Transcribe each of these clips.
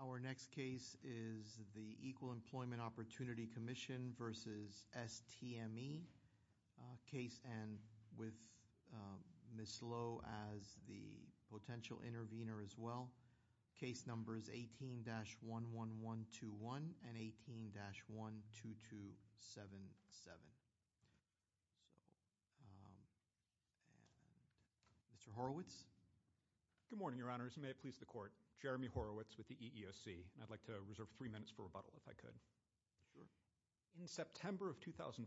Equal Employee Opportunity Commission v. STME, LLC Our next case is the Equal Employment Opportunity Commission v. STME case and with Ms. Lowe as the potential intervener as well. Case numbers 18-11121 and 18-12277. Mr. Horowitz. Good morning, Your Honors. May it please the Court. Jeremy Horowitz with the EEOC. I'd like to reserve three minutes for rebuttal if I could. In September of 2014,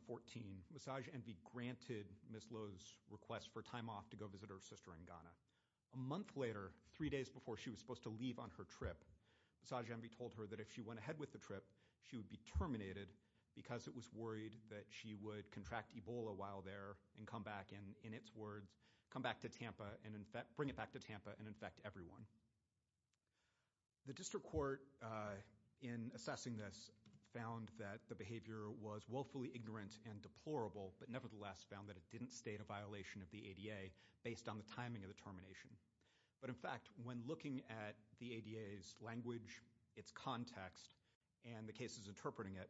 Massage Envy granted Ms. Lowe's request for time off to go visit her sister in Ghana. A month later, three days before she was supposed to leave on her trip, Massage Envy told her that if she went ahead with the trip she would be terminated because it was worried that she would contract Ebola while there and come back and, in its words, come back to Tampa and in fact bring it back to Tampa and infect everyone. The District Court, in assessing this, found that the behavior was woefully ignorant and deplorable but nevertheless found that it didn't state a violation of the ADA based on the timing of the termination. But in fact, when looking at the ADA's language, its context, and the cases interpreting it,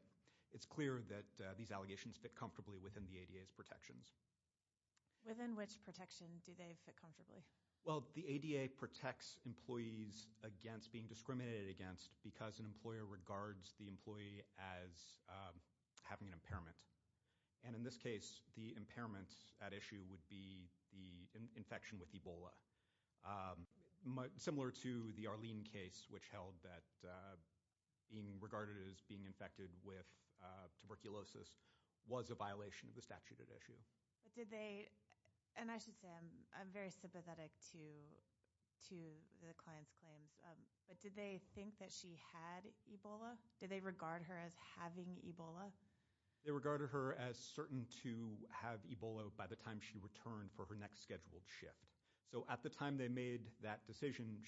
it's clear that these allegations fit comfortably within the ADA's protections. Within which protection do they fit comfortably? Well, the ADA protects employees against being discriminated against because an employer regards the employee as having an impairment. And in this case, the impairment at issue would be the infection with Ebola. Similar to the Arlene case, which held that being regarded as being infected with a statuted issue. Did they, and I should say I'm very sympathetic to the client's claims, but did they think that she had Ebola? Did they regard her as having Ebola? They regarded her as certain to have Ebola by the time she returned for her next scheduled shift. So at the time they made that decision,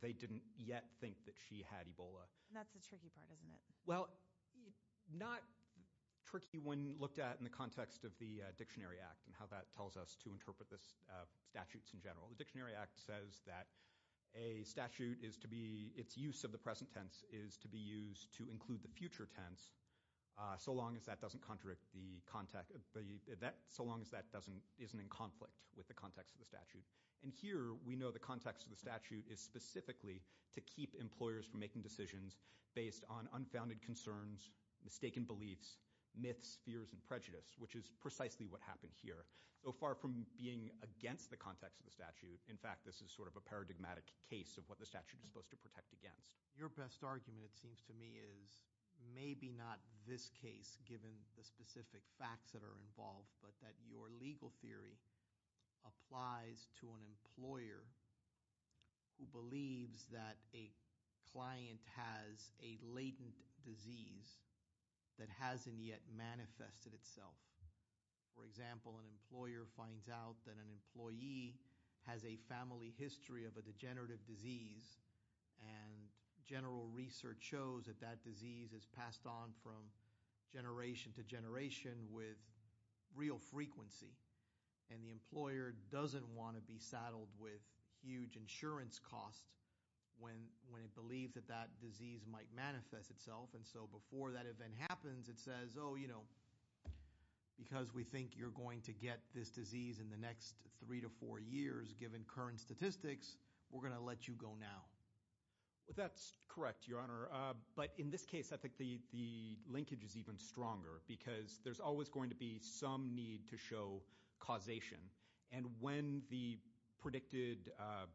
they didn't yet think that she had Ebola. That's the tricky part, isn't it? Well, not tricky when looked at in the context of the Dictionary Act and how that tells us to interpret the statutes in general. The Dictionary Act says that a statute is to be, its use of the present tense is to be used to include the future tense, so long as that doesn't contradict the context, so long as that doesn't, isn't in conflict with the context of the statute. And here we know the context of the statute is specifically to keep employers from making decisions based on unfounded concerns, mistaken beliefs, myths, fears, and prejudice, which is precisely what happened here. So far from being against the context of the statute, in fact, this is sort of a paradigmatic case of what the statute is supposed to protect against. Your best argument, it seems to me, is maybe not this case, given the specific facts that are involved, but that your legal theory applies to an employer who believes that a client has a latent disease that hasn't yet manifested itself. For example, an employer finds out that an employee has a family history of a degenerative disease, and general research shows that that disease is passed on from generation to generation with real frequency, and the employer doesn't want to be saddled with huge insurance costs when it believes that that disease might manifest itself. And so before that event happens, it says, oh, you know, because we think you're going to get this disease in the next three to four years, given current statistics, we're going to let you go now. Well, that's correct, Your Honor, but in this case, I think the linkage is even stronger, because there's always going to be some need to show causation, and when the predicted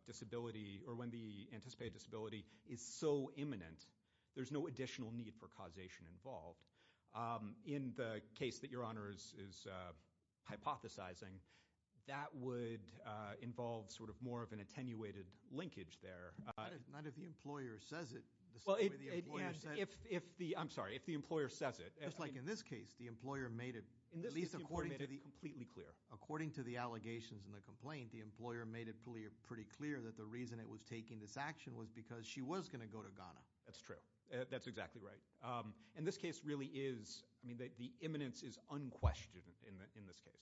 disability or when the anticipated disability is so imminent, there's no additional need for causation involved. In the case that Your Honor is hypothesizing, that would involve sort of more of an attenuated linkage there, not if the employer says it. I'm sorry, if the employer says it. It's like in this case, the employer made it completely clear. According to the allegations in the complaint, the employer made it pretty clear that the reason it was taking this action was because she was going to go to Ghana. That's true. That's exactly right. In this case, really, the imminence is unquestioned in this case.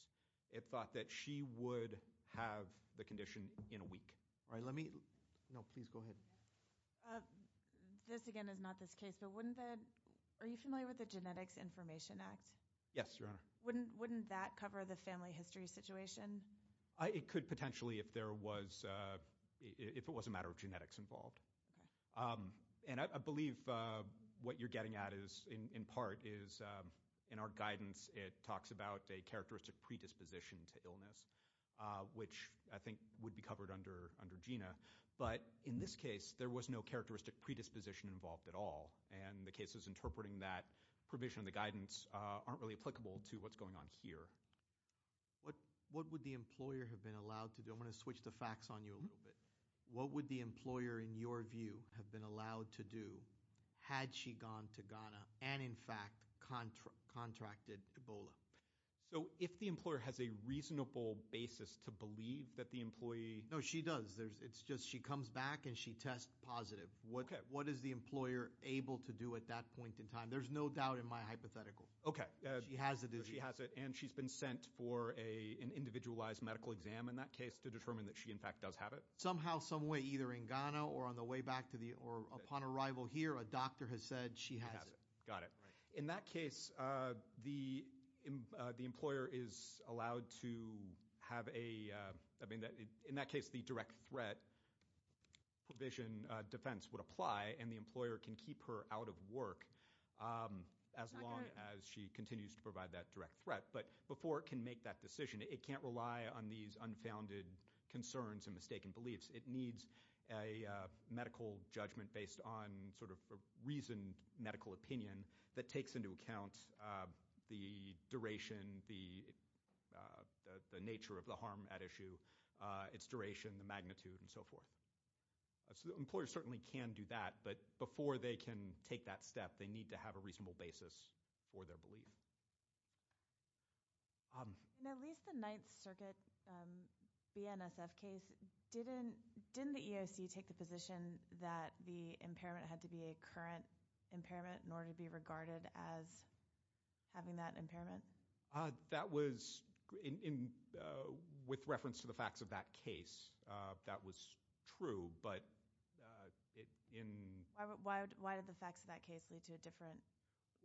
It thought that she would have the This, again, is not this case, but are you familiar with the Genetics Information Act? Yes, Your Honor. Wouldn't that cover the family history situation? It could, potentially, if it was a matter of genetics involved, and I believe what you're getting at, in part, is in our guidance, it talks about a characteristic predisposition to illness, which I think would be covered under GINA, but in this case, there was no characteristic predisposition involved at all, and the cases interpreting that provision in the guidance aren't really applicable to what's going on here. What would the employer have been allowed to do? I'm gonna switch the facts on you a little bit. What would the employer, in your view, have been allowed to do had she gone to Ghana and, in fact, contracted Ebola? So, if the employer has a No, she does. It's just she comes back and she tests positive. What is the employer able to do at that point in time? There's no doubt in my hypothetical. Okay. She has it. She has it, and she's been sent for an individualized medical exam in that case to determine that she, in fact, does have it? Somehow, some way, either in Ghana or on the way back to the, or upon arrival here, a doctor has said she has it. Got it. In that case, the employer is allowed to have a, I mean, in that case, the direct threat provision defense would apply, and the employer can keep her out of work as long as she continues to provide that direct threat, but before it can make that decision, it can't rely on these unfounded concerns and mistaken beliefs. It needs a medical judgment based on, sort of, a reasoned medical opinion that takes into account the duration, the nature of the harm at issue, its duration, the magnitude, and so forth. So, the employer certainly can do that, but before they can take that step, they need to have a reasonable basis for their belief. In at least the Ninth Circuit BNSF case, didn't the EOC take the position that the impairment had to be a current impairment in order to be regarded as having that impairment? That was, in, with reference to the facts of that case, that was true, but in... Why did the facts of that case lead to a different...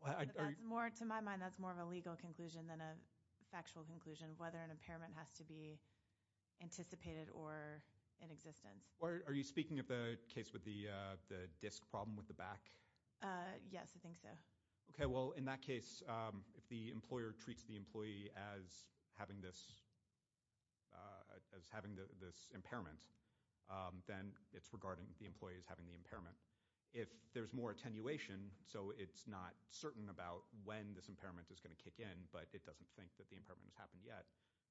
That's more, to my mind, that's more of a legal conclusion than a factual conclusion, whether an impairment has to be anticipated or in existence. Are you speaking of the case with the disc problem with the back? Yes, I think so. Okay, well, in that case, if the employer treats the employee as having this, as having this impairment, then it's regarding the employee as having the impairment. If there's more attenuation, so it's not certain about when this impairment is going to kick in, but it doesn't think that the impairment has happened yet,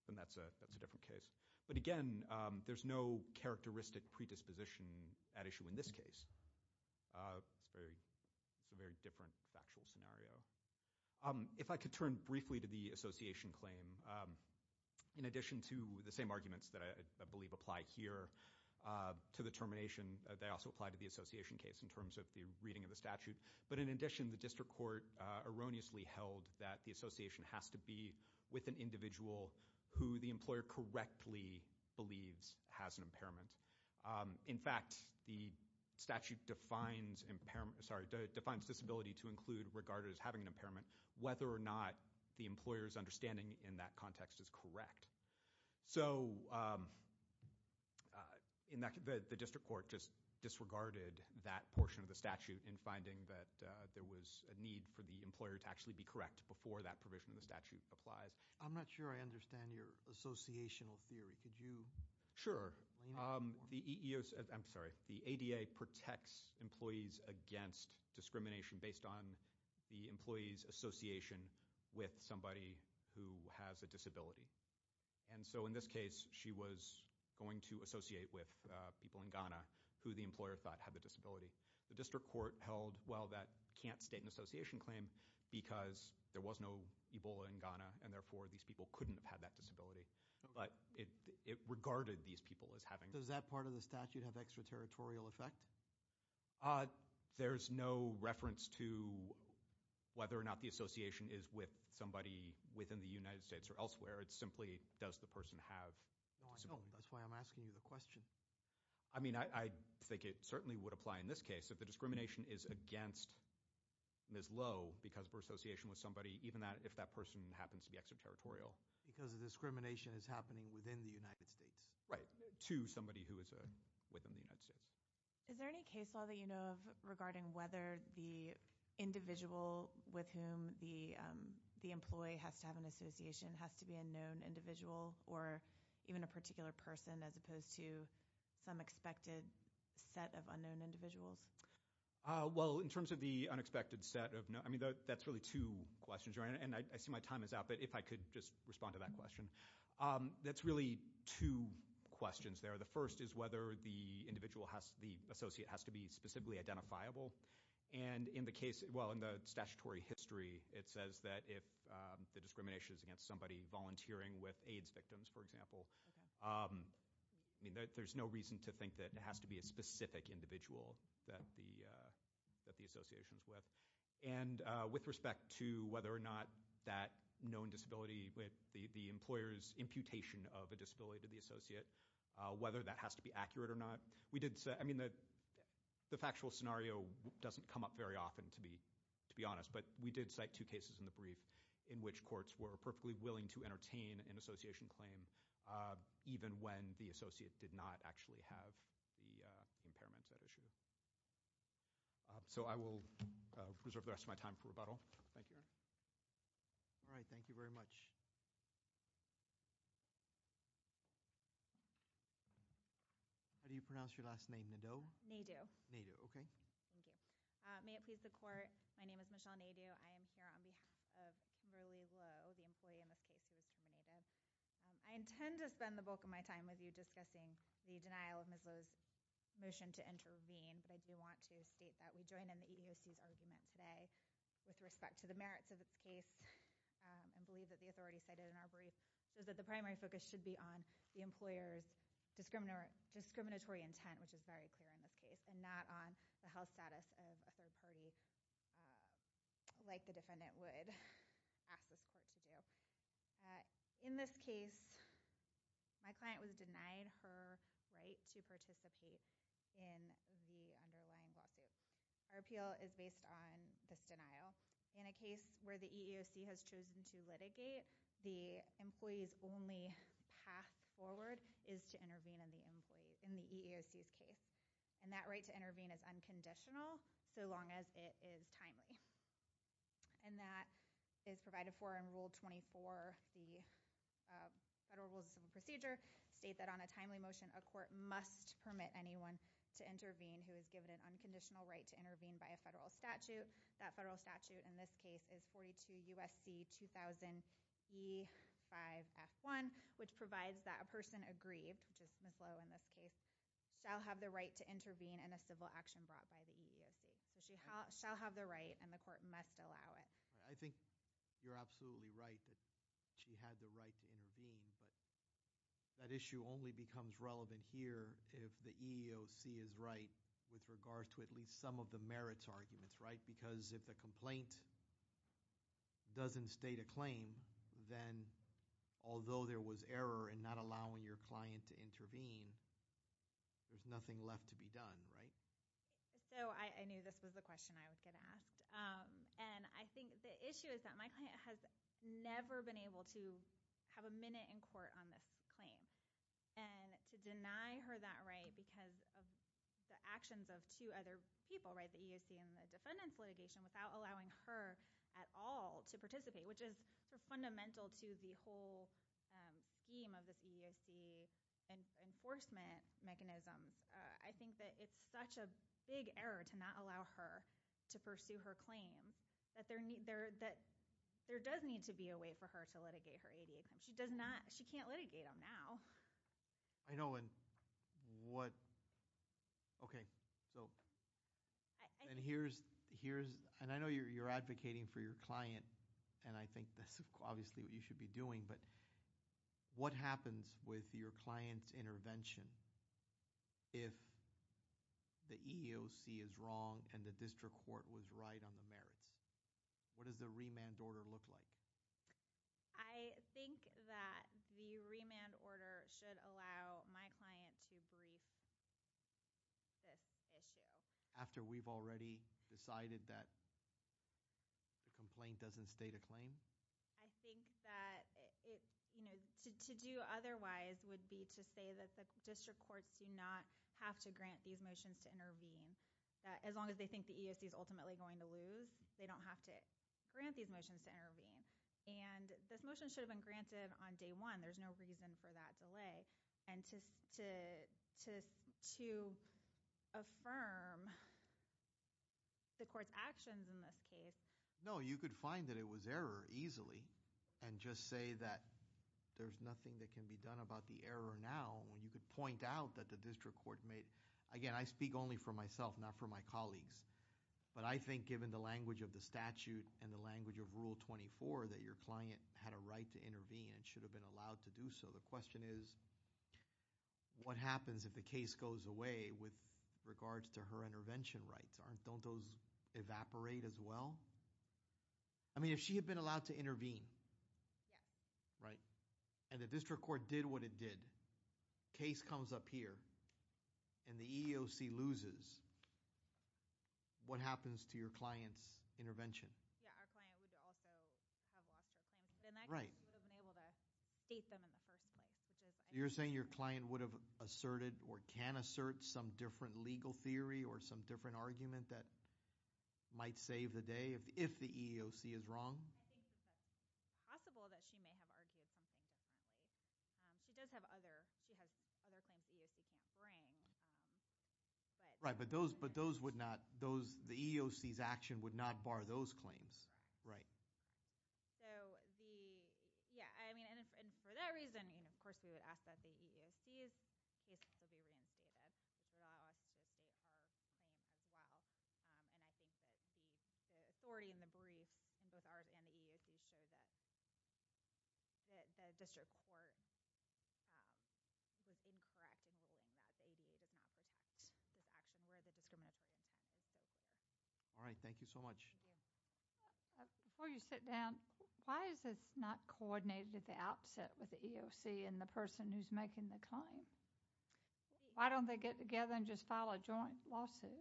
then that's a, that's a different case. But again, there's no characteristic predisposition at issue in this case. It's very, it's a very different factual scenario. If I could turn briefly to the association claim, in addition to the same arguments that I believe apply here to the termination, they also apply to the association case in terms of the reading of the statute, but in addition, the district court erroneously held that the association has to be with an individual who the employer correctly believes has an ability to include, regarded as having an impairment, whether or not the employer's understanding in that context is correct. So, in that, the district court just disregarded that portion of the statute in finding that there was a need for the employer to actually be correct before that provision of the statute applies. I'm not sure I understand your associational theory. Could you? Sure. The EEO, I'm sorry, the ADA protects employees against discrimination based on the employee's association with somebody who has a disability. And so, in this case, she was going to associate with people in Ghana who the employer thought had the disability. The district court held, well, that can't state an association claim because there was no Ebola in Ghana and therefore these people couldn't have had that disability, but it regarded these people as having. Does that part of the statute have extraterritorial effect? There's no reference to whether or not the association is with somebody within the United States or elsewhere. It simply does the person have. That's why I'm asking you the question. I mean, I think it certainly would apply in this case if the discrimination is against Ms. Lowe because of her association with somebody, even that if that person happens to be extraterritorial. Because the discrimination is happening within the United States. Right, to somebody who is within the United States. Is there any case law that you know of regarding whether the individual with whom the employee has to have an association has to be a known individual or even a particular person as opposed to some expected set of unknown individuals? Well, in terms of the unexpected set of known, I mean, that's really two questions. And I see my time is out, but if I could just respond to that question. That's really two questions there. The first is whether the individual has, the associate has to be specifically identifiable. And in the case, well, in the statutory history, it says that if the discrimination is against somebody volunteering with AIDS victims, for example. I mean, there's no reason to think that it has to be a specific individual that the association is with. And with respect to whether or not that known disability, the employer's imputation of a disability to the association, whether that has to be accurate or not. We did say, I mean, the factual scenario doesn't come up very often, to be honest. But we did cite two cases in the brief in which courts were perfectly willing to entertain an association claim even when the associate did not actually have the impairment at issue. So I will reserve the rest of my time for rebuttal. Thank you. All right, thank you very much. How do you pronounce your last name, Nadeau? Nadeau. Nadeau, okay. Thank you. May it please the court, my name is Michelle Nadeau. I am here on behalf of Merlee Lowe, the employee in this case who was incriminated. I intend to spend the bulk of my time with you discussing the denial of Ms. Lowe's motion to intervene, but I do want to state that we join in the EEOC's argument today with respect to the merits of its case and believe that the authority cited in our brief is that the primary focus should be on the discriminatory intent, which is very clear in this case, and not on the health status of a third party like the defendant would ask this court to do. In this case, my client was denied her right to participate in the underlying lawsuit. Our appeal is based on this denial. In a case where the EEOC has chosen to in the EEOC's case, and that right to intervene is unconditional so long as it is timely, and that is provided for in Rule 24, the Federal Rules of Civil Procedure, state that on a timely motion, a court must permit anyone to intervene who is given an unconditional right to intervene by a federal statute. That federal statute in this case is 42 USC 2000 E5 F1, which provides that a person aggrieved, which is Ms. Lowe in this case, shall have the right to intervene in a civil action brought by the EEOC. So she shall have the right and the court must allow it. I think you're absolutely right that she had the right to intervene, but that issue only becomes relevant here if the EEOC is right with regards to at least some of the merits arguments, right? Because if the complaint doesn't state a client to intervene, there's nothing left to be done, right? So I knew this was the question I was gonna ask, and I think the issue is that my client has never been able to have a minute in court on this claim, and to deny her that right because of the actions of two other people, right, the EEOC and the defendants litigation, without allowing her at all to participate, which is fundamental to the whole scheme of this EEOC enforcement mechanism. I think that it's such a big error to not allow her to pursue her claim, that there does need to be a way for her to litigate her ADA claim. She does not, she can't litigate them now. I know, and what, okay, so, and here's, and I know you're advocating for your client, and I think that's obviously what you should be doing, but what happens with your client's intervention if the EEOC is wrong, and the district court was right on the merits? What does the remand order look like? I think that the remand order should allow my client to brief this issue. After we've already decided that the complaint doesn't state a claim? I think that it, you know, to do otherwise would be to say that the district courts do not have to grant these motions to intervene, that as long as they think the EEOC is ultimately going to lose, they don't have to grant these motions to intervene, and this motion should have been granted on day one. There's no reason for that delay, and just to affirm the court's actions in this case. No, you could find that it was error easily, and just say that there's nothing that can be done about the error now, when you could point out that the district court made, again, I speak only for myself, not for my colleagues, but I think given the language of the statute and the language of Rule 24, that your client had a right to intervene and should have been allowed to do so. The question is, what happens if the case goes away with regards to her intervention rights? Don't those evaporate as well? I mean, if she had been allowed to intervene, right, and the district court did what it did, case comes up here, and the EEOC loses, what happens to your client's intervention? You're saying your client would have asserted or can assert some different legal theory or some different argument that might save the day, if the EEOC is wrong? I think it's possible that she may have argued something. She does have other claims the EEOC can't bring. Right, but those would not, the EEOC's action would not bar those claims. Right. So, yeah, I mean, and for that reason, of course, we would ask that the EEOC's case update our claim as well, and I think that the authority in the brief, both ours and the EEOC's, show that the district court was incorrect in ruling that the ADA does not protect this action where the discriminatory claims have been made. All right, thank you so much. Before you sit down, why is this not coordinated at the outset with the EEOC and the person who's making the claim? Why don't they get together and just file a joint lawsuit?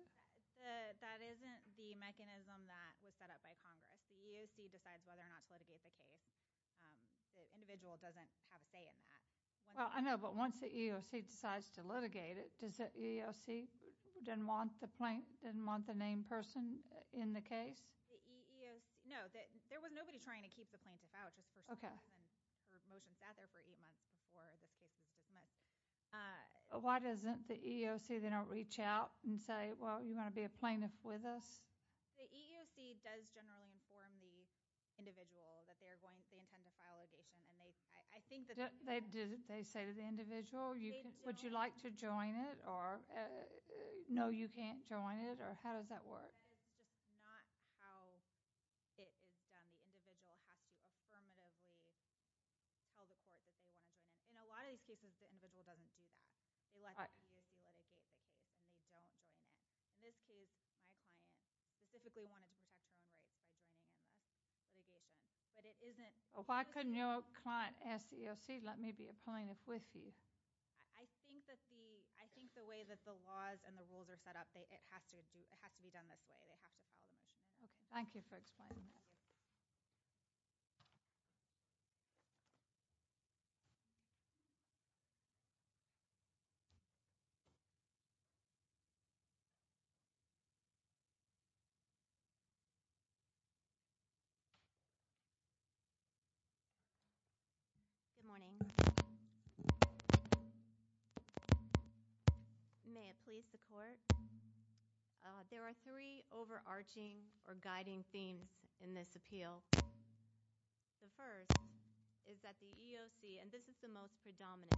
That isn't the mechanism that was set up by Congress. The EEOC decides whether or not to litigate the case. The individual doesn't have a say in that. Well, I know, but once the EEOC decides to litigate it, does the EEOC then want the name person in the case? The EEOC, no, there was nobody trying to keep the plaintiff out just for some reason. Okay. The motion sat there for eight months before this case was dismissed. Why doesn't the EEOC, they don't reach out and say, well, you want to be a plaintiff with us? The EEOC does generally inform the individual that they intend to file litigation, and I think that's They say to the individual, would you like to join it, or no, you can't join it, or how does that work? That is just not how it is done. The individual has to affirmatively tell the court that they want to join it. In a lot of these cases, the individual doesn't do that. They let the EEOC litigate the case, and they don't join it. In this case, my client specifically wanted to protect her own rights by joining in the litigation, but it isn't Why couldn't your client ask the EEOC, let me be a plaintiff with you? I think the way that the laws and the rules are set up, it has to be done this way. They have to file the motion. Okay. Thank you for explaining that. Good morning. May it please the court, there are three overarching or guiding themes in this appeal. The first is that the EEOC, and this is the most predominant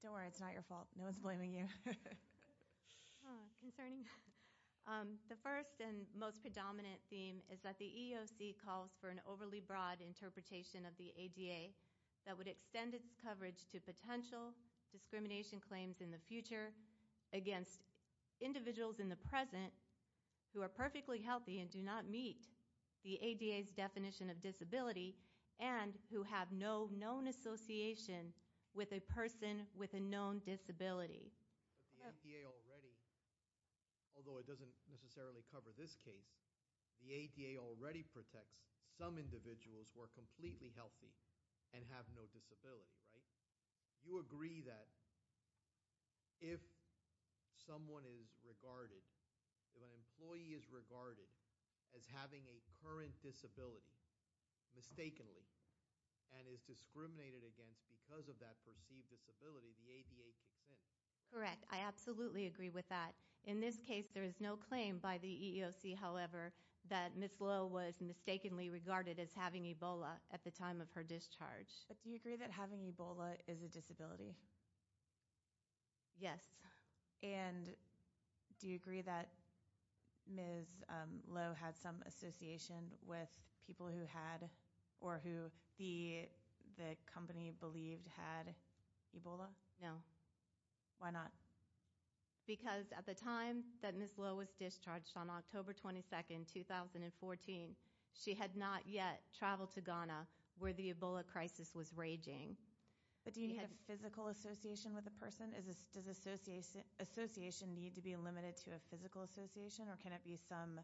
appeal. Don't worry, it's not your fault. No one is blaming you. Concerning the first and most predominant theme is that the EEOC calls for an overly broad interpretation of the ADA that would extend its coverage to potential discrimination claims in the future against individuals in the present who are perfectly healthy and do not meet the ADA's definition of disability and who have no known association with a person with a known disability. The ADA already, although it doesn't necessarily cover this case, the ADA already protects some individuals who are completely healthy and have no disability, right? You agree that if someone is regarded, if an employee is regarded as having a current disability, mistakenly, and is discriminated against because of that perceived disability, the ADA kicks in. Correct. I absolutely agree with that. In this case, there is no claim by the EEOC, however, that Ms. Lowe was mistakenly regarded as having Ebola at the time of her discharge. But do you agree that having Ebola is a disability? Yes. And do you agree that Ms. Lowe had some association with people who had or who the company believed had Ebola? No. Why not? Because at the time that Ms. Lowe was discharged on October 22, 2014, she had not yet traveled to Ghana where the Ebola crisis was raging. But do you need a physical association with a person? Does association need to be limited to a physical association or can it be some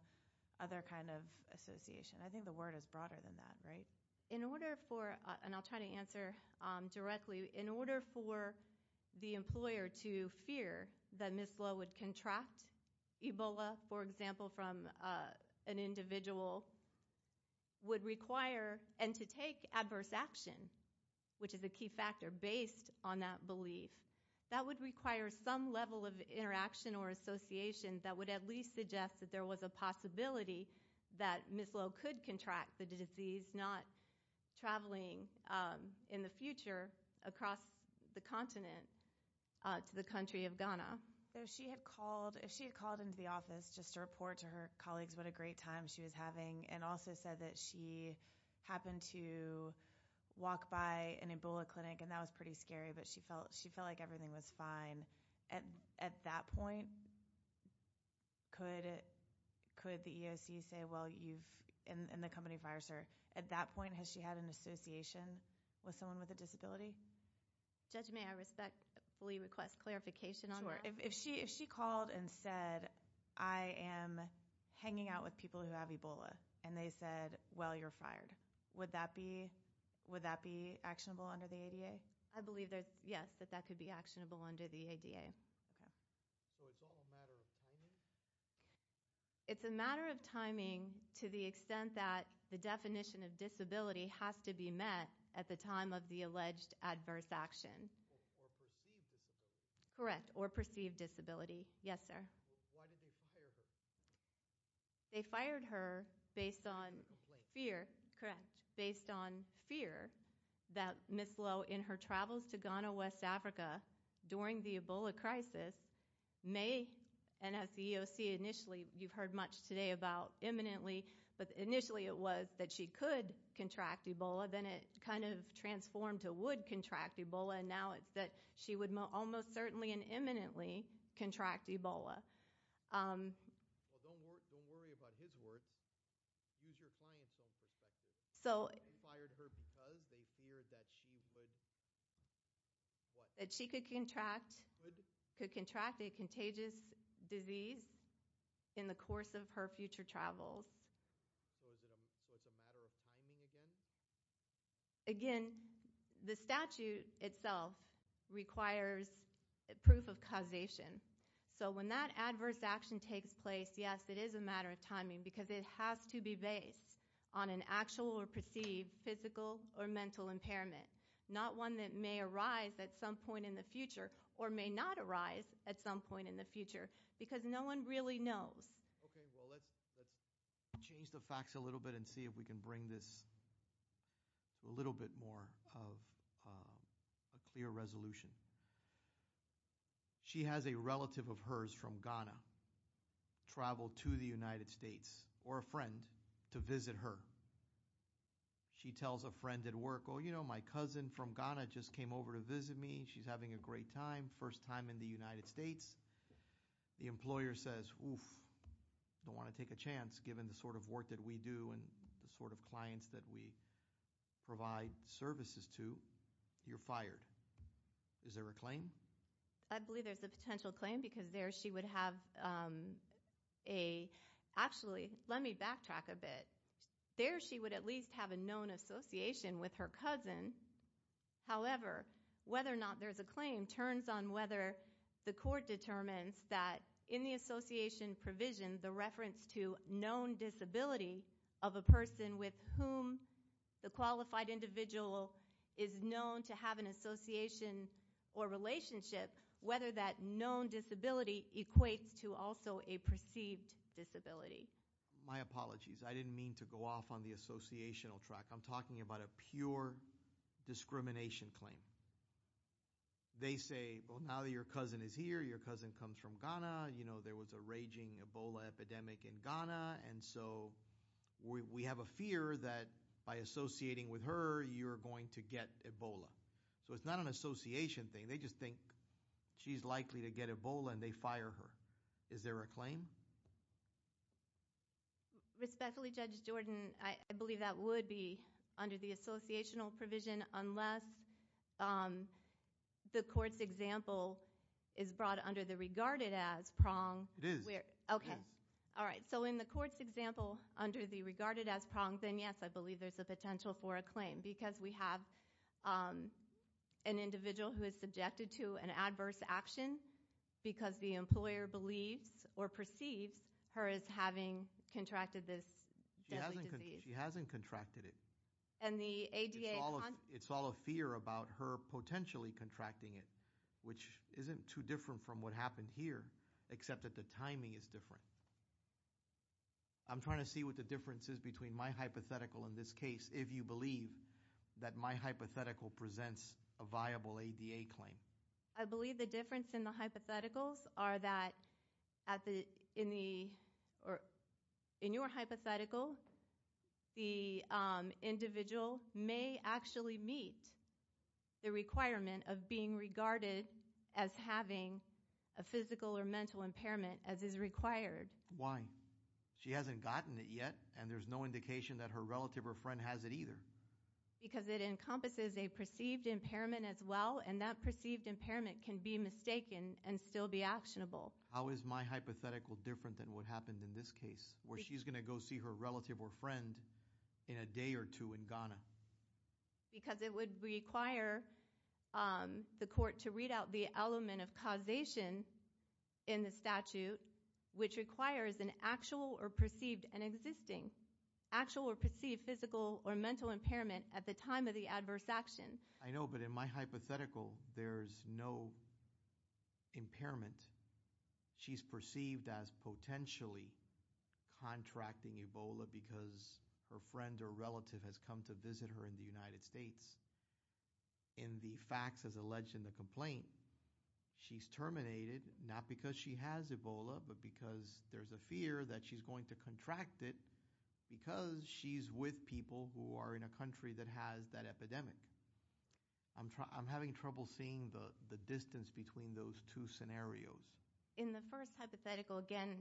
other kind of association? I think the word is broader than that, right? In order for, and I'll try to answer directly, in order for the employer to fear that Ms. Lowe would contract Ebola, for example, from an individual, would require, and to take adverse action, which is a key factor based on that belief, that would require some level of interaction or association that would at least suggest that there was a possibility that Ms. Lowe could contract the disease, not traveling in the future across the continent to the country of Ghana. She had called into the office just to report to her colleagues what a great time she was having and also said that she happened to walk by an Ebola clinic and that was pretty scary, but she felt like everything was fine. And at that point, could the EOC say, well, you've, and the company fires her? At that point, has she had an association with someone with a disability? Judge, may I respectfully request clarification on that? Sure. If she called and said, I am hanging out with people who have Ebola, and they said, well, you're fired, would that be actionable under the ADA? Okay. I believe that, yes, that that could be actionable under the ADA. So it's all a matter of timing? It's a matter of timing to the extent that the definition of disability has to be met at the time of the alleged adverse action. Or perceived disability. Correct. Or perceived disability. Yes, sir. Why did they fire her? They fired her based on fear. Correct. Based on fear that Ms. Lowe, in her travels to Ghana, West Africa, during the Ebola crisis, may, and as the EOC initially, you've heard much today about imminently, but initially it was that she could contract Ebola, then it kind of transformed to would contract Ebola, and now it's that she would almost certainly and imminently contract Ebola. Well, don't worry about his words. Use your client's own perspective. They fired her because they feared that she would, what? That she could contract a contagious disease in the course of her future travels. So it's a matter of timing again? Again, the statute itself requires proof of causation. So when that adverse action takes place, yes, it is a matter of timing because it has to be based on an actual or perceived physical or mental impairment, not one that may arise at some point in the future or may not arise at some point in the future because no one really knows. Okay, well, let's change the facts a little bit and see if we can bring this a little bit more of a clear resolution. She has a relative of hers from Ghana travel to the United States or a friend to visit her. She tells a friend at work, oh, you know, my cousin from Ghana just came over to visit me. She's having a great time, first time in the United States. The employer says, oof, don't want to take a chance given the sort of work that we do and the sort of clients that we provide services to. You're fired. Is there a claim? I believe there's a potential claim because there she would have a, actually, let me backtrack a bit. There she would at least have a known association with her cousin. However, whether or not there's a claim turns on whether the court determines that in the association provision the reference to known disability of a person with whom the qualified individual is known to have an association or relationship, whether that known disability equates to also a perceived disability. My apologies. I didn't mean to go off on the associational track. I'm talking about a pure discrimination claim. They say, well, now that your cousin is here, your cousin comes from Ghana, you know, there was a raging Ebola epidemic in Ghana, and so we have a fear that by associating with her, you're going to get Ebola. So it's not an association thing. They just think she's likely to get Ebola, and they fire her. Is there a claim? Respectfully, Judge Jordan, I believe that would be under the associational provision unless the court's example is brought under the regarded as prong. It is. Okay. All right, so in the court's example under the regarded as prong, then, yes, I believe there's a potential for a claim because we have an individual who is subjected to an adverse action because the employer believes or perceives her as having contracted this deadly disease. She hasn't contracted it. It's all a fear about her potentially contracting it, which isn't too different from what happened here except that the timing is different. I'm trying to see what the difference is between my hypothetical in this case, if you believe that my hypothetical presents a viable ADA claim. I believe the difference in the hypotheticals are that in your hypothetical, the individual may actually meet the requirement of being regarded as having a physical or mental impairment as is required. Why? She hasn't gotten it yet, and there's no indication that her relative or friend has it either. Because it encompasses a perceived impairment as well, and that perceived impairment can be mistaken and still be actionable. How is my hypothetical different than what happened in this case where she's going to go see her relative or friend in a day or two in Ghana? Because it would require the court to read out the element of causation in the statute, which requires an actual or perceived physical or mental impairment at the time of the adverse action. I know, but in my hypothetical, there's no impairment. She's perceived as potentially contracting Ebola because her friend or relative has come to visit her in the United States. In the facts as alleged in the complaint, she's terminated not because she has Ebola, but because there's a fear that she's going to contract it because she's with people who are in a country that has that epidemic. I'm having trouble seeing the distance between those two scenarios. In the first hypothetical, again,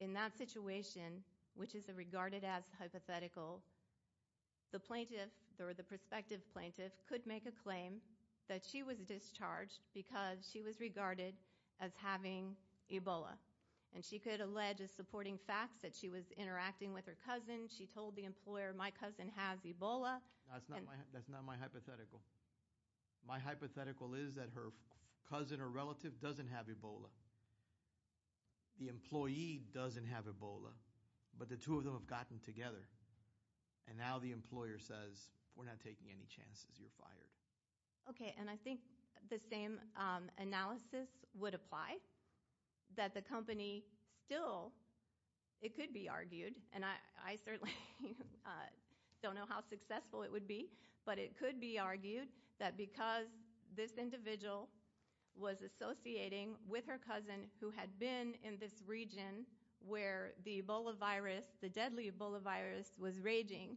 in that situation, which is regarded as hypothetical, the plaintiff or the prospective plaintiff could make a claim that she was discharged because she was regarded as having Ebola, and she could allege as supporting facts that she was interacting with her cousin. She told the employer, my cousin has Ebola. That's not my hypothetical. My hypothetical is that her cousin or relative doesn't have Ebola. The employee doesn't have Ebola, but the two of them have gotten together, and now the employer says, we're not taking any chances. You're fired. Okay, and I think the same analysis would apply, that the company still, it could be argued, and I certainly don't know how successful it would be, but it could be argued that because this individual was associating with her cousin who had been in this region where the Ebola virus, the deadly Ebola virus was raging,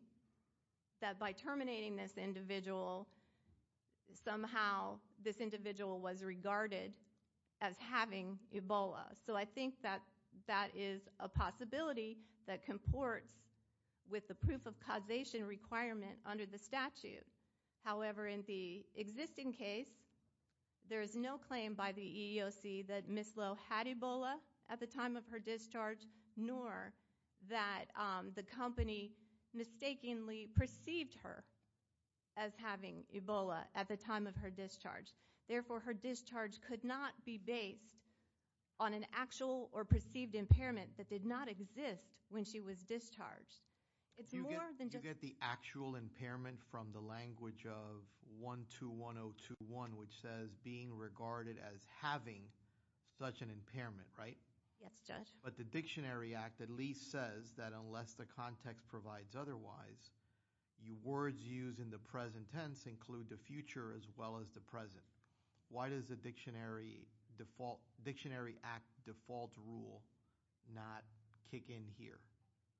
that by terminating this individual, somehow this individual was regarded as having Ebola. So I think that that is a possibility that comports with the proof of causation requirement under the statute. However, in the existing case, there is no claim by the EEOC that Ms. Lowe had Ebola at the time of her discharge, nor that the company mistakenly perceived her as having Ebola at the time of her discharge. Therefore, her discharge could not be based on an actual or perceived impairment that did not exist when she was discharged. You get the actual impairment from the language of 121021, which says being regarded as having such an impairment, right? Yes, Judge. But the Dictionary Act at least says that unless the context provides otherwise, words used in the present tense include the future as well as the present. Why does the Dictionary Act default rule not kick in here?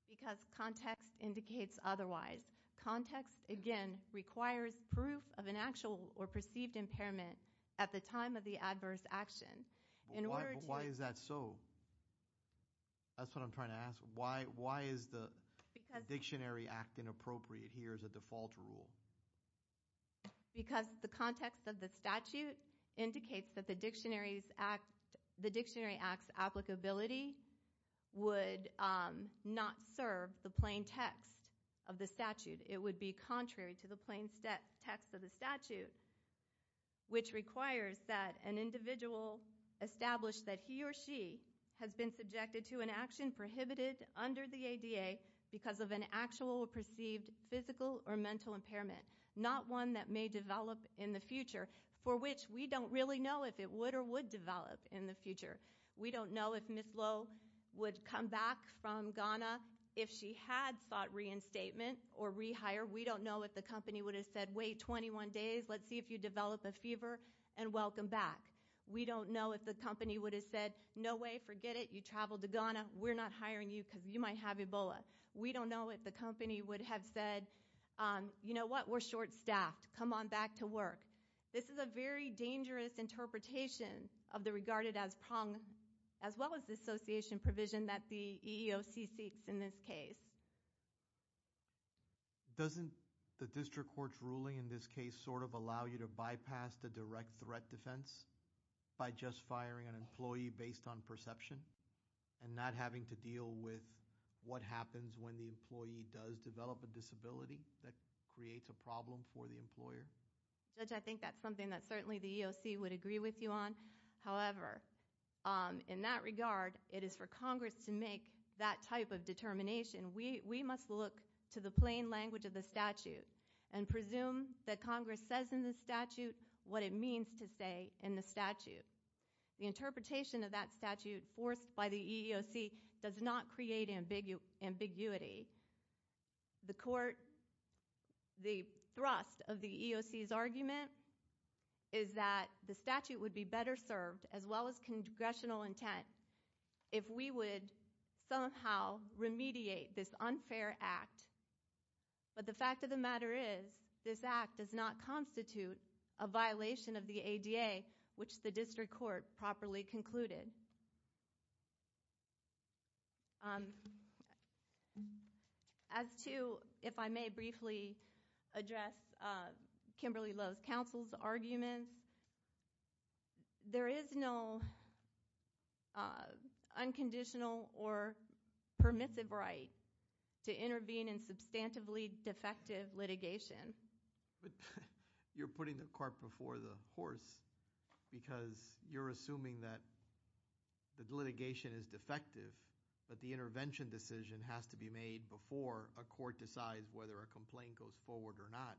Because context indicates otherwise. Context, again, requires proof of an actual or perceived impairment at the time of the adverse action. Why is that so? That's what I'm trying to ask. Why is the Dictionary Act inappropriate here as a default rule? Because the context of the statute indicates that the Dictionary Act's applicability would not serve the plain text of the statute. It would be contrary to the plain text of the statute, which requires that an individual establish that he or she has been subjected to an action prohibited under the ADA because of an actual or perceived physical or mental impairment, not one that may develop in the future, for which we don't really know if it would or would develop in the future. We don't know if Ms. Lowe would come back from Ghana if she had sought reinstatement or rehire. We don't know if the company would have said, wait 21 days, let's see if you develop a fever, and welcome back. We don't know if the company would have said, no way, forget it, you traveled to Ghana, we're not hiring you because you might have Ebola. We don't know if the company would have said, you know what, we're short-staffed, come on back to work. This is a very dangerous interpretation of the regarded as prong, as well as the association provision that the EEOC seeks in this case. Doesn't the district court's ruling in this case sort of allow you to bypass the direct threat defense by just firing an employee based on perception and not having to deal with what happens when the employee does develop a disability that creates a problem for the employer? Judge, I think that's something that certainly the EEOC would agree with you on. However, in that regard, it is for Congress to make that type of determination. We must look to the plain language of the statute and presume that Congress says in the statute what it means to say in the statute. The interpretation of that statute forced by the EEOC does not create ambiguity. The court, the thrust of the EEOC's argument is that the statute would be better served as well as congressional intent if we would somehow remediate this unfair act. But the fact of the matter is this act does not constitute a violation of the ADA, which the district court properly concluded. As to if I may briefly address Kimberly Lowe's counsel's arguments, there is no unconditional or permissive right to intervene in substantively defective litigation. But you're putting the cart before the horse because you're assuming that the litigation is defective but the intervention decision has to be made before a court decides whether a complaint goes forward or not.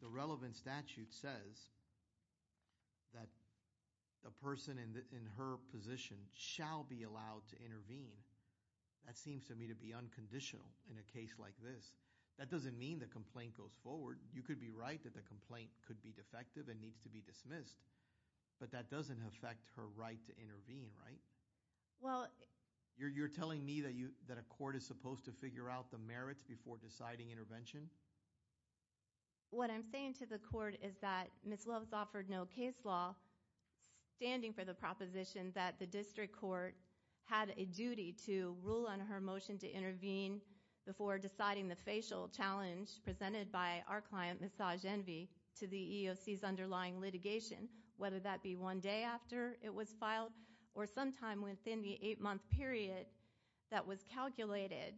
The relevant statute says that a person in her position shall be allowed to intervene. That seems to me to be unconditional in a case like this. That doesn't mean the complaint goes forward. You could be right that the complaint could be defective and needs to be dismissed, but that doesn't affect her right to intervene, right? You're telling me that a court is supposed to figure out the merits before deciding intervention? What I'm saying to the court is that Ms. Lowe's offered no case law standing for the proposition that the district court had a duty to rule on her motion to intervene before deciding the facial challenge presented by our client, Ms. Sagenvy, to the EEOC's underlying litigation, whether that be one day after it was filed or sometime within the eight-month period that was calculated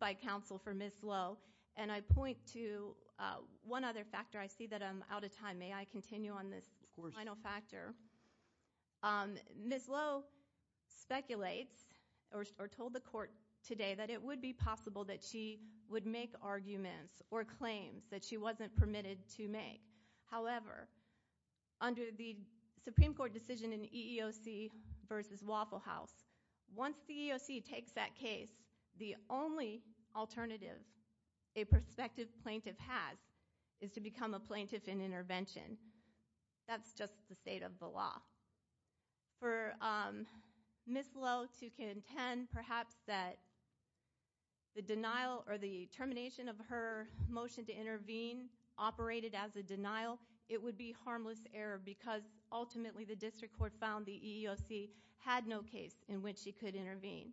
by counsel for Ms. Lowe. And I point to one other factor. I see that I'm out of time. May I continue on this final factor? Ms. Lowe speculates or told the court today that it would be possible that she would make arguments or claims that she wasn't permitted to make. However, under the Supreme Court decision in EEOC v. Waffle House, once the EEOC takes that case, the only alternative a prospective plaintiff has is to become a plaintiff in intervention. That's just the state of the law. For Ms. Lowe to contend perhaps that the denial or the termination of her motion to intervene operated as a denial, it would be harmless error because ultimately the district court found the EEOC had no case in which she could intervene.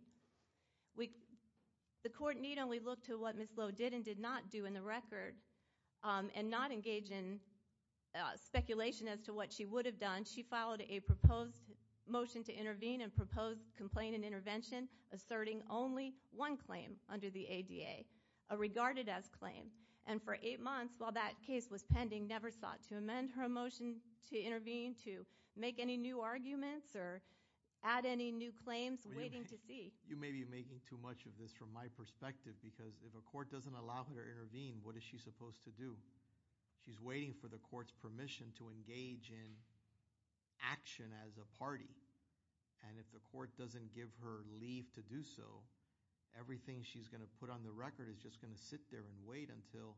The court need only look to what Ms. Lowe did and did not do in the record and not engage in speculation as to what she would have done. She filed a proposed motion to intervene and proposed complaint in intervention, asserting only one claim under the ADA, a regarded-as claim. And for eight months while that case was pending, never sought to amend her motion to intervene, to make any new arguments or add any new claims, waiting to see. You may be making too much of this from my perspective because if a court doesn't allow her to intervene, what is she supposed to do? She's waiting for the court's permission to engage in action as a party. And if the court doesn't give her leave to do so, everything she's going to put on the record is just going to sit there and wait until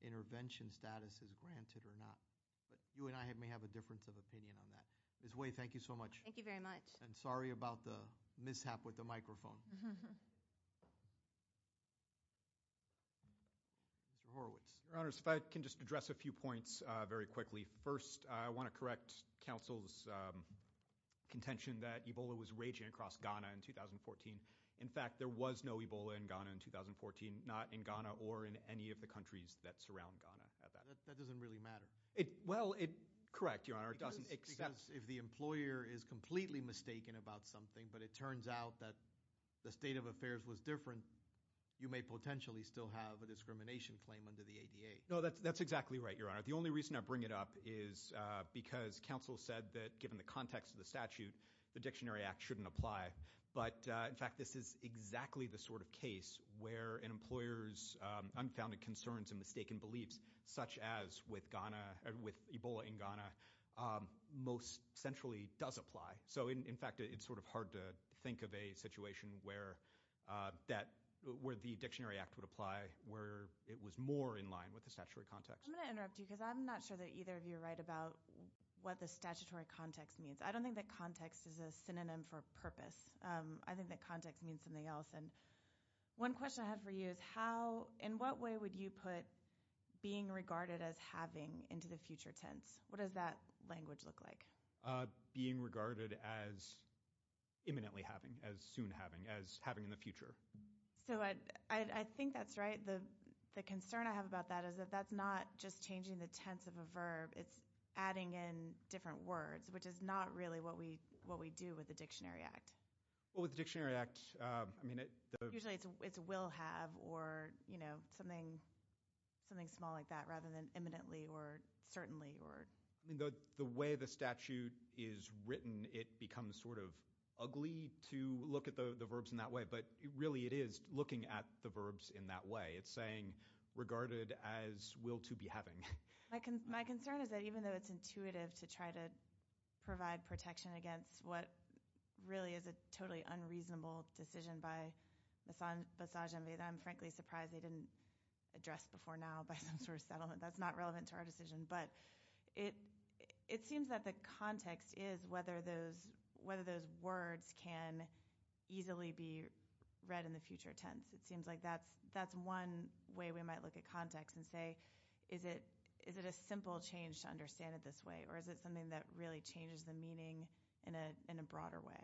intervention status is granted or not. But you and I may have a difference of opinion on that. Ms. Wei, thank you so much. Thank you very much. And sorry about the mishap with the microphone. Mr. Horowitz. Your Honors, if I can just address a few points very quickly. First, I want to correct counsel's contention that Ebola was raging across Ghana in 2014. In fact, there was no Ebola in Ghana in 2014, not in Ghana or in any of the countries that surround Ghana at that time. That doesn't really matter. Well, correct, Your Honor. It doesn't exist. Because if the employer is completely mistaken about something but it turns out that the state of affairs was different, you may potentially still have a discrimination claim under the ADA. No, that's exactly right, Your Honor. The only reason I bring it up is because counsel said that given the context of the statute, the Dictionary Act shouldn't apply. But, in fact, this is exactly the sort of case where an employer's unfounded concerns and mistaken beliefs, such as with Ebola in Ghana, most centrally does apply. So, in fact, it's sort of hard to think of a situation where the Dictionary Act would apply, where it was more in line with the statutory context. I'm going to interrupt you because I'm not sure that either of you are right about what the statutory context means. I don't think that context is a synonym for purpose. I think that context means something else. One question I have for you is in what way would you put being regarded as having into the future tense? What does that language look like? Being regarded as imminently having, as soon having, as having in the future. So I think that's right. The concern I have about that is that that's not just changing the tense of a verb. It's adding in different words, which is not really what we do with the Dictionary Act. Well, with the Dictionary Act, I mean it – Usually it's will have or something small like that rather than imminently or certainly or – I mean the way the statute is written, it becomes sort of ugly to look at the verbs in that way. But really it is looking at the verbs in that way. It's saying regarded as will to be having. My concern is that even though it's intuitive to try to provide protection against what really is a totally unreasonable decision by Basaj and Vedha, I'm frankly surprised they didn't address before now by some sort of settlement. That's not relevant to our decision. But it seems that the context is whether those words can easily be read in the future tense. It seems like that's one way we might look at context and say is it a simple change to understand it this way or is it something that really changes the meaning in a broader way?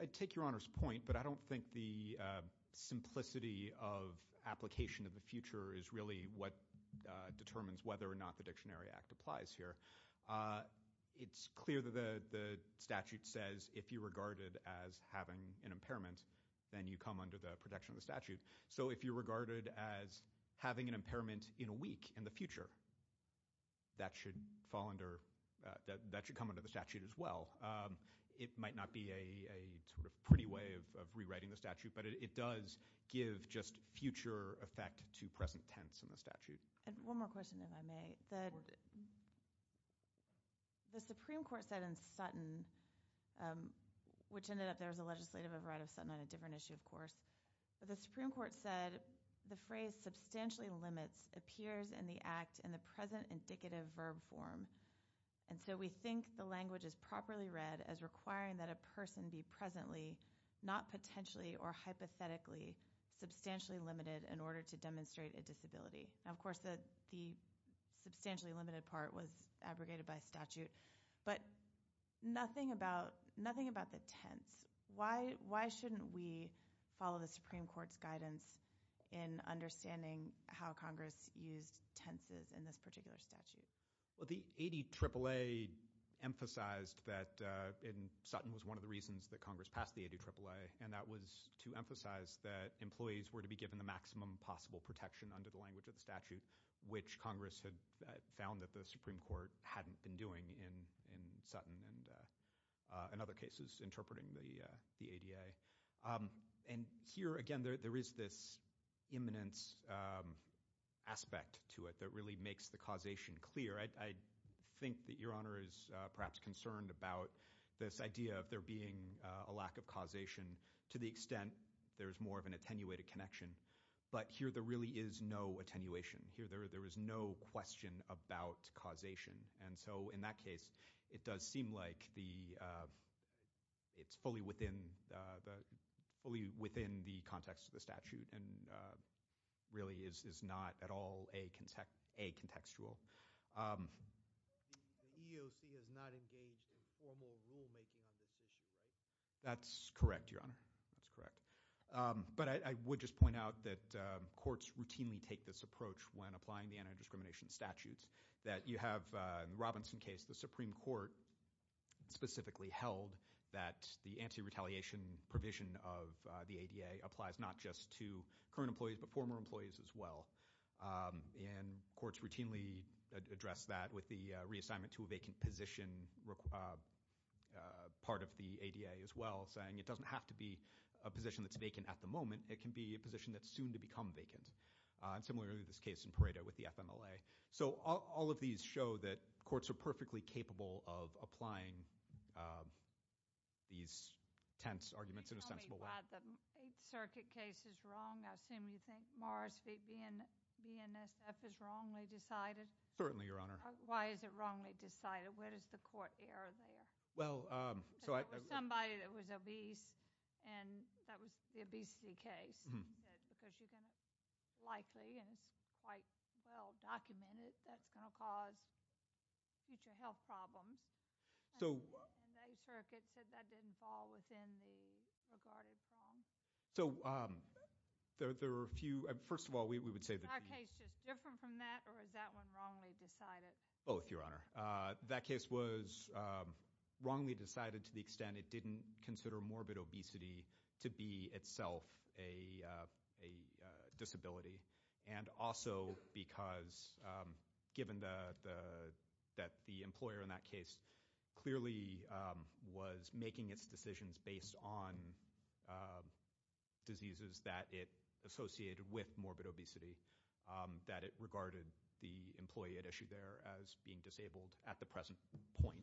I take Your Honor's point, but I don't think the simplicity of application of the future is really what determines whether or not the Dictionary Act applies here. It's clear that the statute says if you regard it as having an impairment, then you come under the protection of the statute. So if you regard it as having an impairment in a week in the future, that should come under the statute as well. It might not be a pretty way of rewriting the statute, but it does give just future effect to present tense in the statute. One more question if I may. The Supreme Court said in Sutton, which ended up there was a legislative override of Sutton on a different issue, of course. But the Supreme Court said the phrase substantially limits appears in the act in the present indicative verb form. And so we think the language is properly read as requiring that a person be presently, not potentially or hypothetically, substantially limited in order to demonstrate a disability. Now, of course, the substantially limited part was abrogated by statute. But nothing about the tense. Why shouldn't we follow the Supreme Court's guidance in understanding how Congress used tenses in this particular statute? Well, the 80 AAA emphasized that in Sutton was one of the reasons that Congress passed the 80 AAA, and that was to emphasize that employees were to be given the maximum possible protection under the language of the statute, which Congress had found that the Supreme Court hadn't been doing in Sutton and in other cases interpreting the ADA. And here again, there is this imminence aspect to it that really makes the causation clear. I think that Your Honor is perhaps concerned about this idea of there being a lack of causation to the extent there is more of an attenuated connection. But here there really is no attenuation. Here there is no question about causation. And so in that case, it does seem like it's fully within the context of the statute and really is not at all a contextual. The EEOC has not engaged in formal rulemaking on this issue, right? That's correct, Your Honor. That's correct. But I would just point out that courts routinely take this approach when applying the anti-discrimination statutes, that you have in the Robinson case, the Supreme Court specifically held that the anti-retaliation provision of the ADA applies not just to current employees, but former employees as well. And courts routinely address that with the reassignment to a vacant position part of the ADA as well, saying it doesn't have to be a position that's vacant at the moment. It can be a position that's soon to become vacant. And similarly, this case in Pareto with the FMLA. So all of these show that courts are perfectly capable of applying these tense arguments in a sensible way. Can you tell me why the Eighth Circuit case is wrong? I assume you think Morris v. BNSF is wrongly decided? Certainly, Your Honor. Why is it wrongly decided? What is the court error there? It was somebody that was obese, and that was the obesity case. Because you're going to likely, and it's quite well documented, that's going to cause future health problems. And the Eighth Circuit said that didn't fall within the regarded prong. So there were a few – first of all, we would say that the – Is our case just different from that, or is that one wrongly decided? Both, Your Honor. That case was wrongly decided to the extent it didn't consider morbid obesity to be itself a disability. And also because given that the employer in that case clearly was making its decisions based on diseases that it associated with morbid obesity, that it regarded the employee at issue there as being disabled at the present point.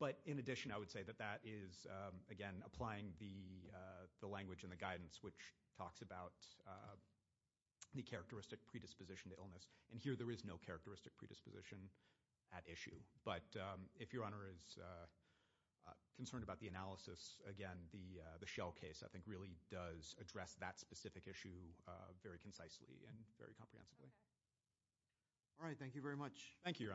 But in addition, I would say that that is, again, applying the language and the guidance which talks about the characteristic predisposition to illness. And here there is no characteristic predisposition at issue. But if Your Honor is concerned about the analysis, again, the Shell case I think really does address that specific issue very concisely and very comprehensively. All right. Thank you very much. Thank you, Your Honor.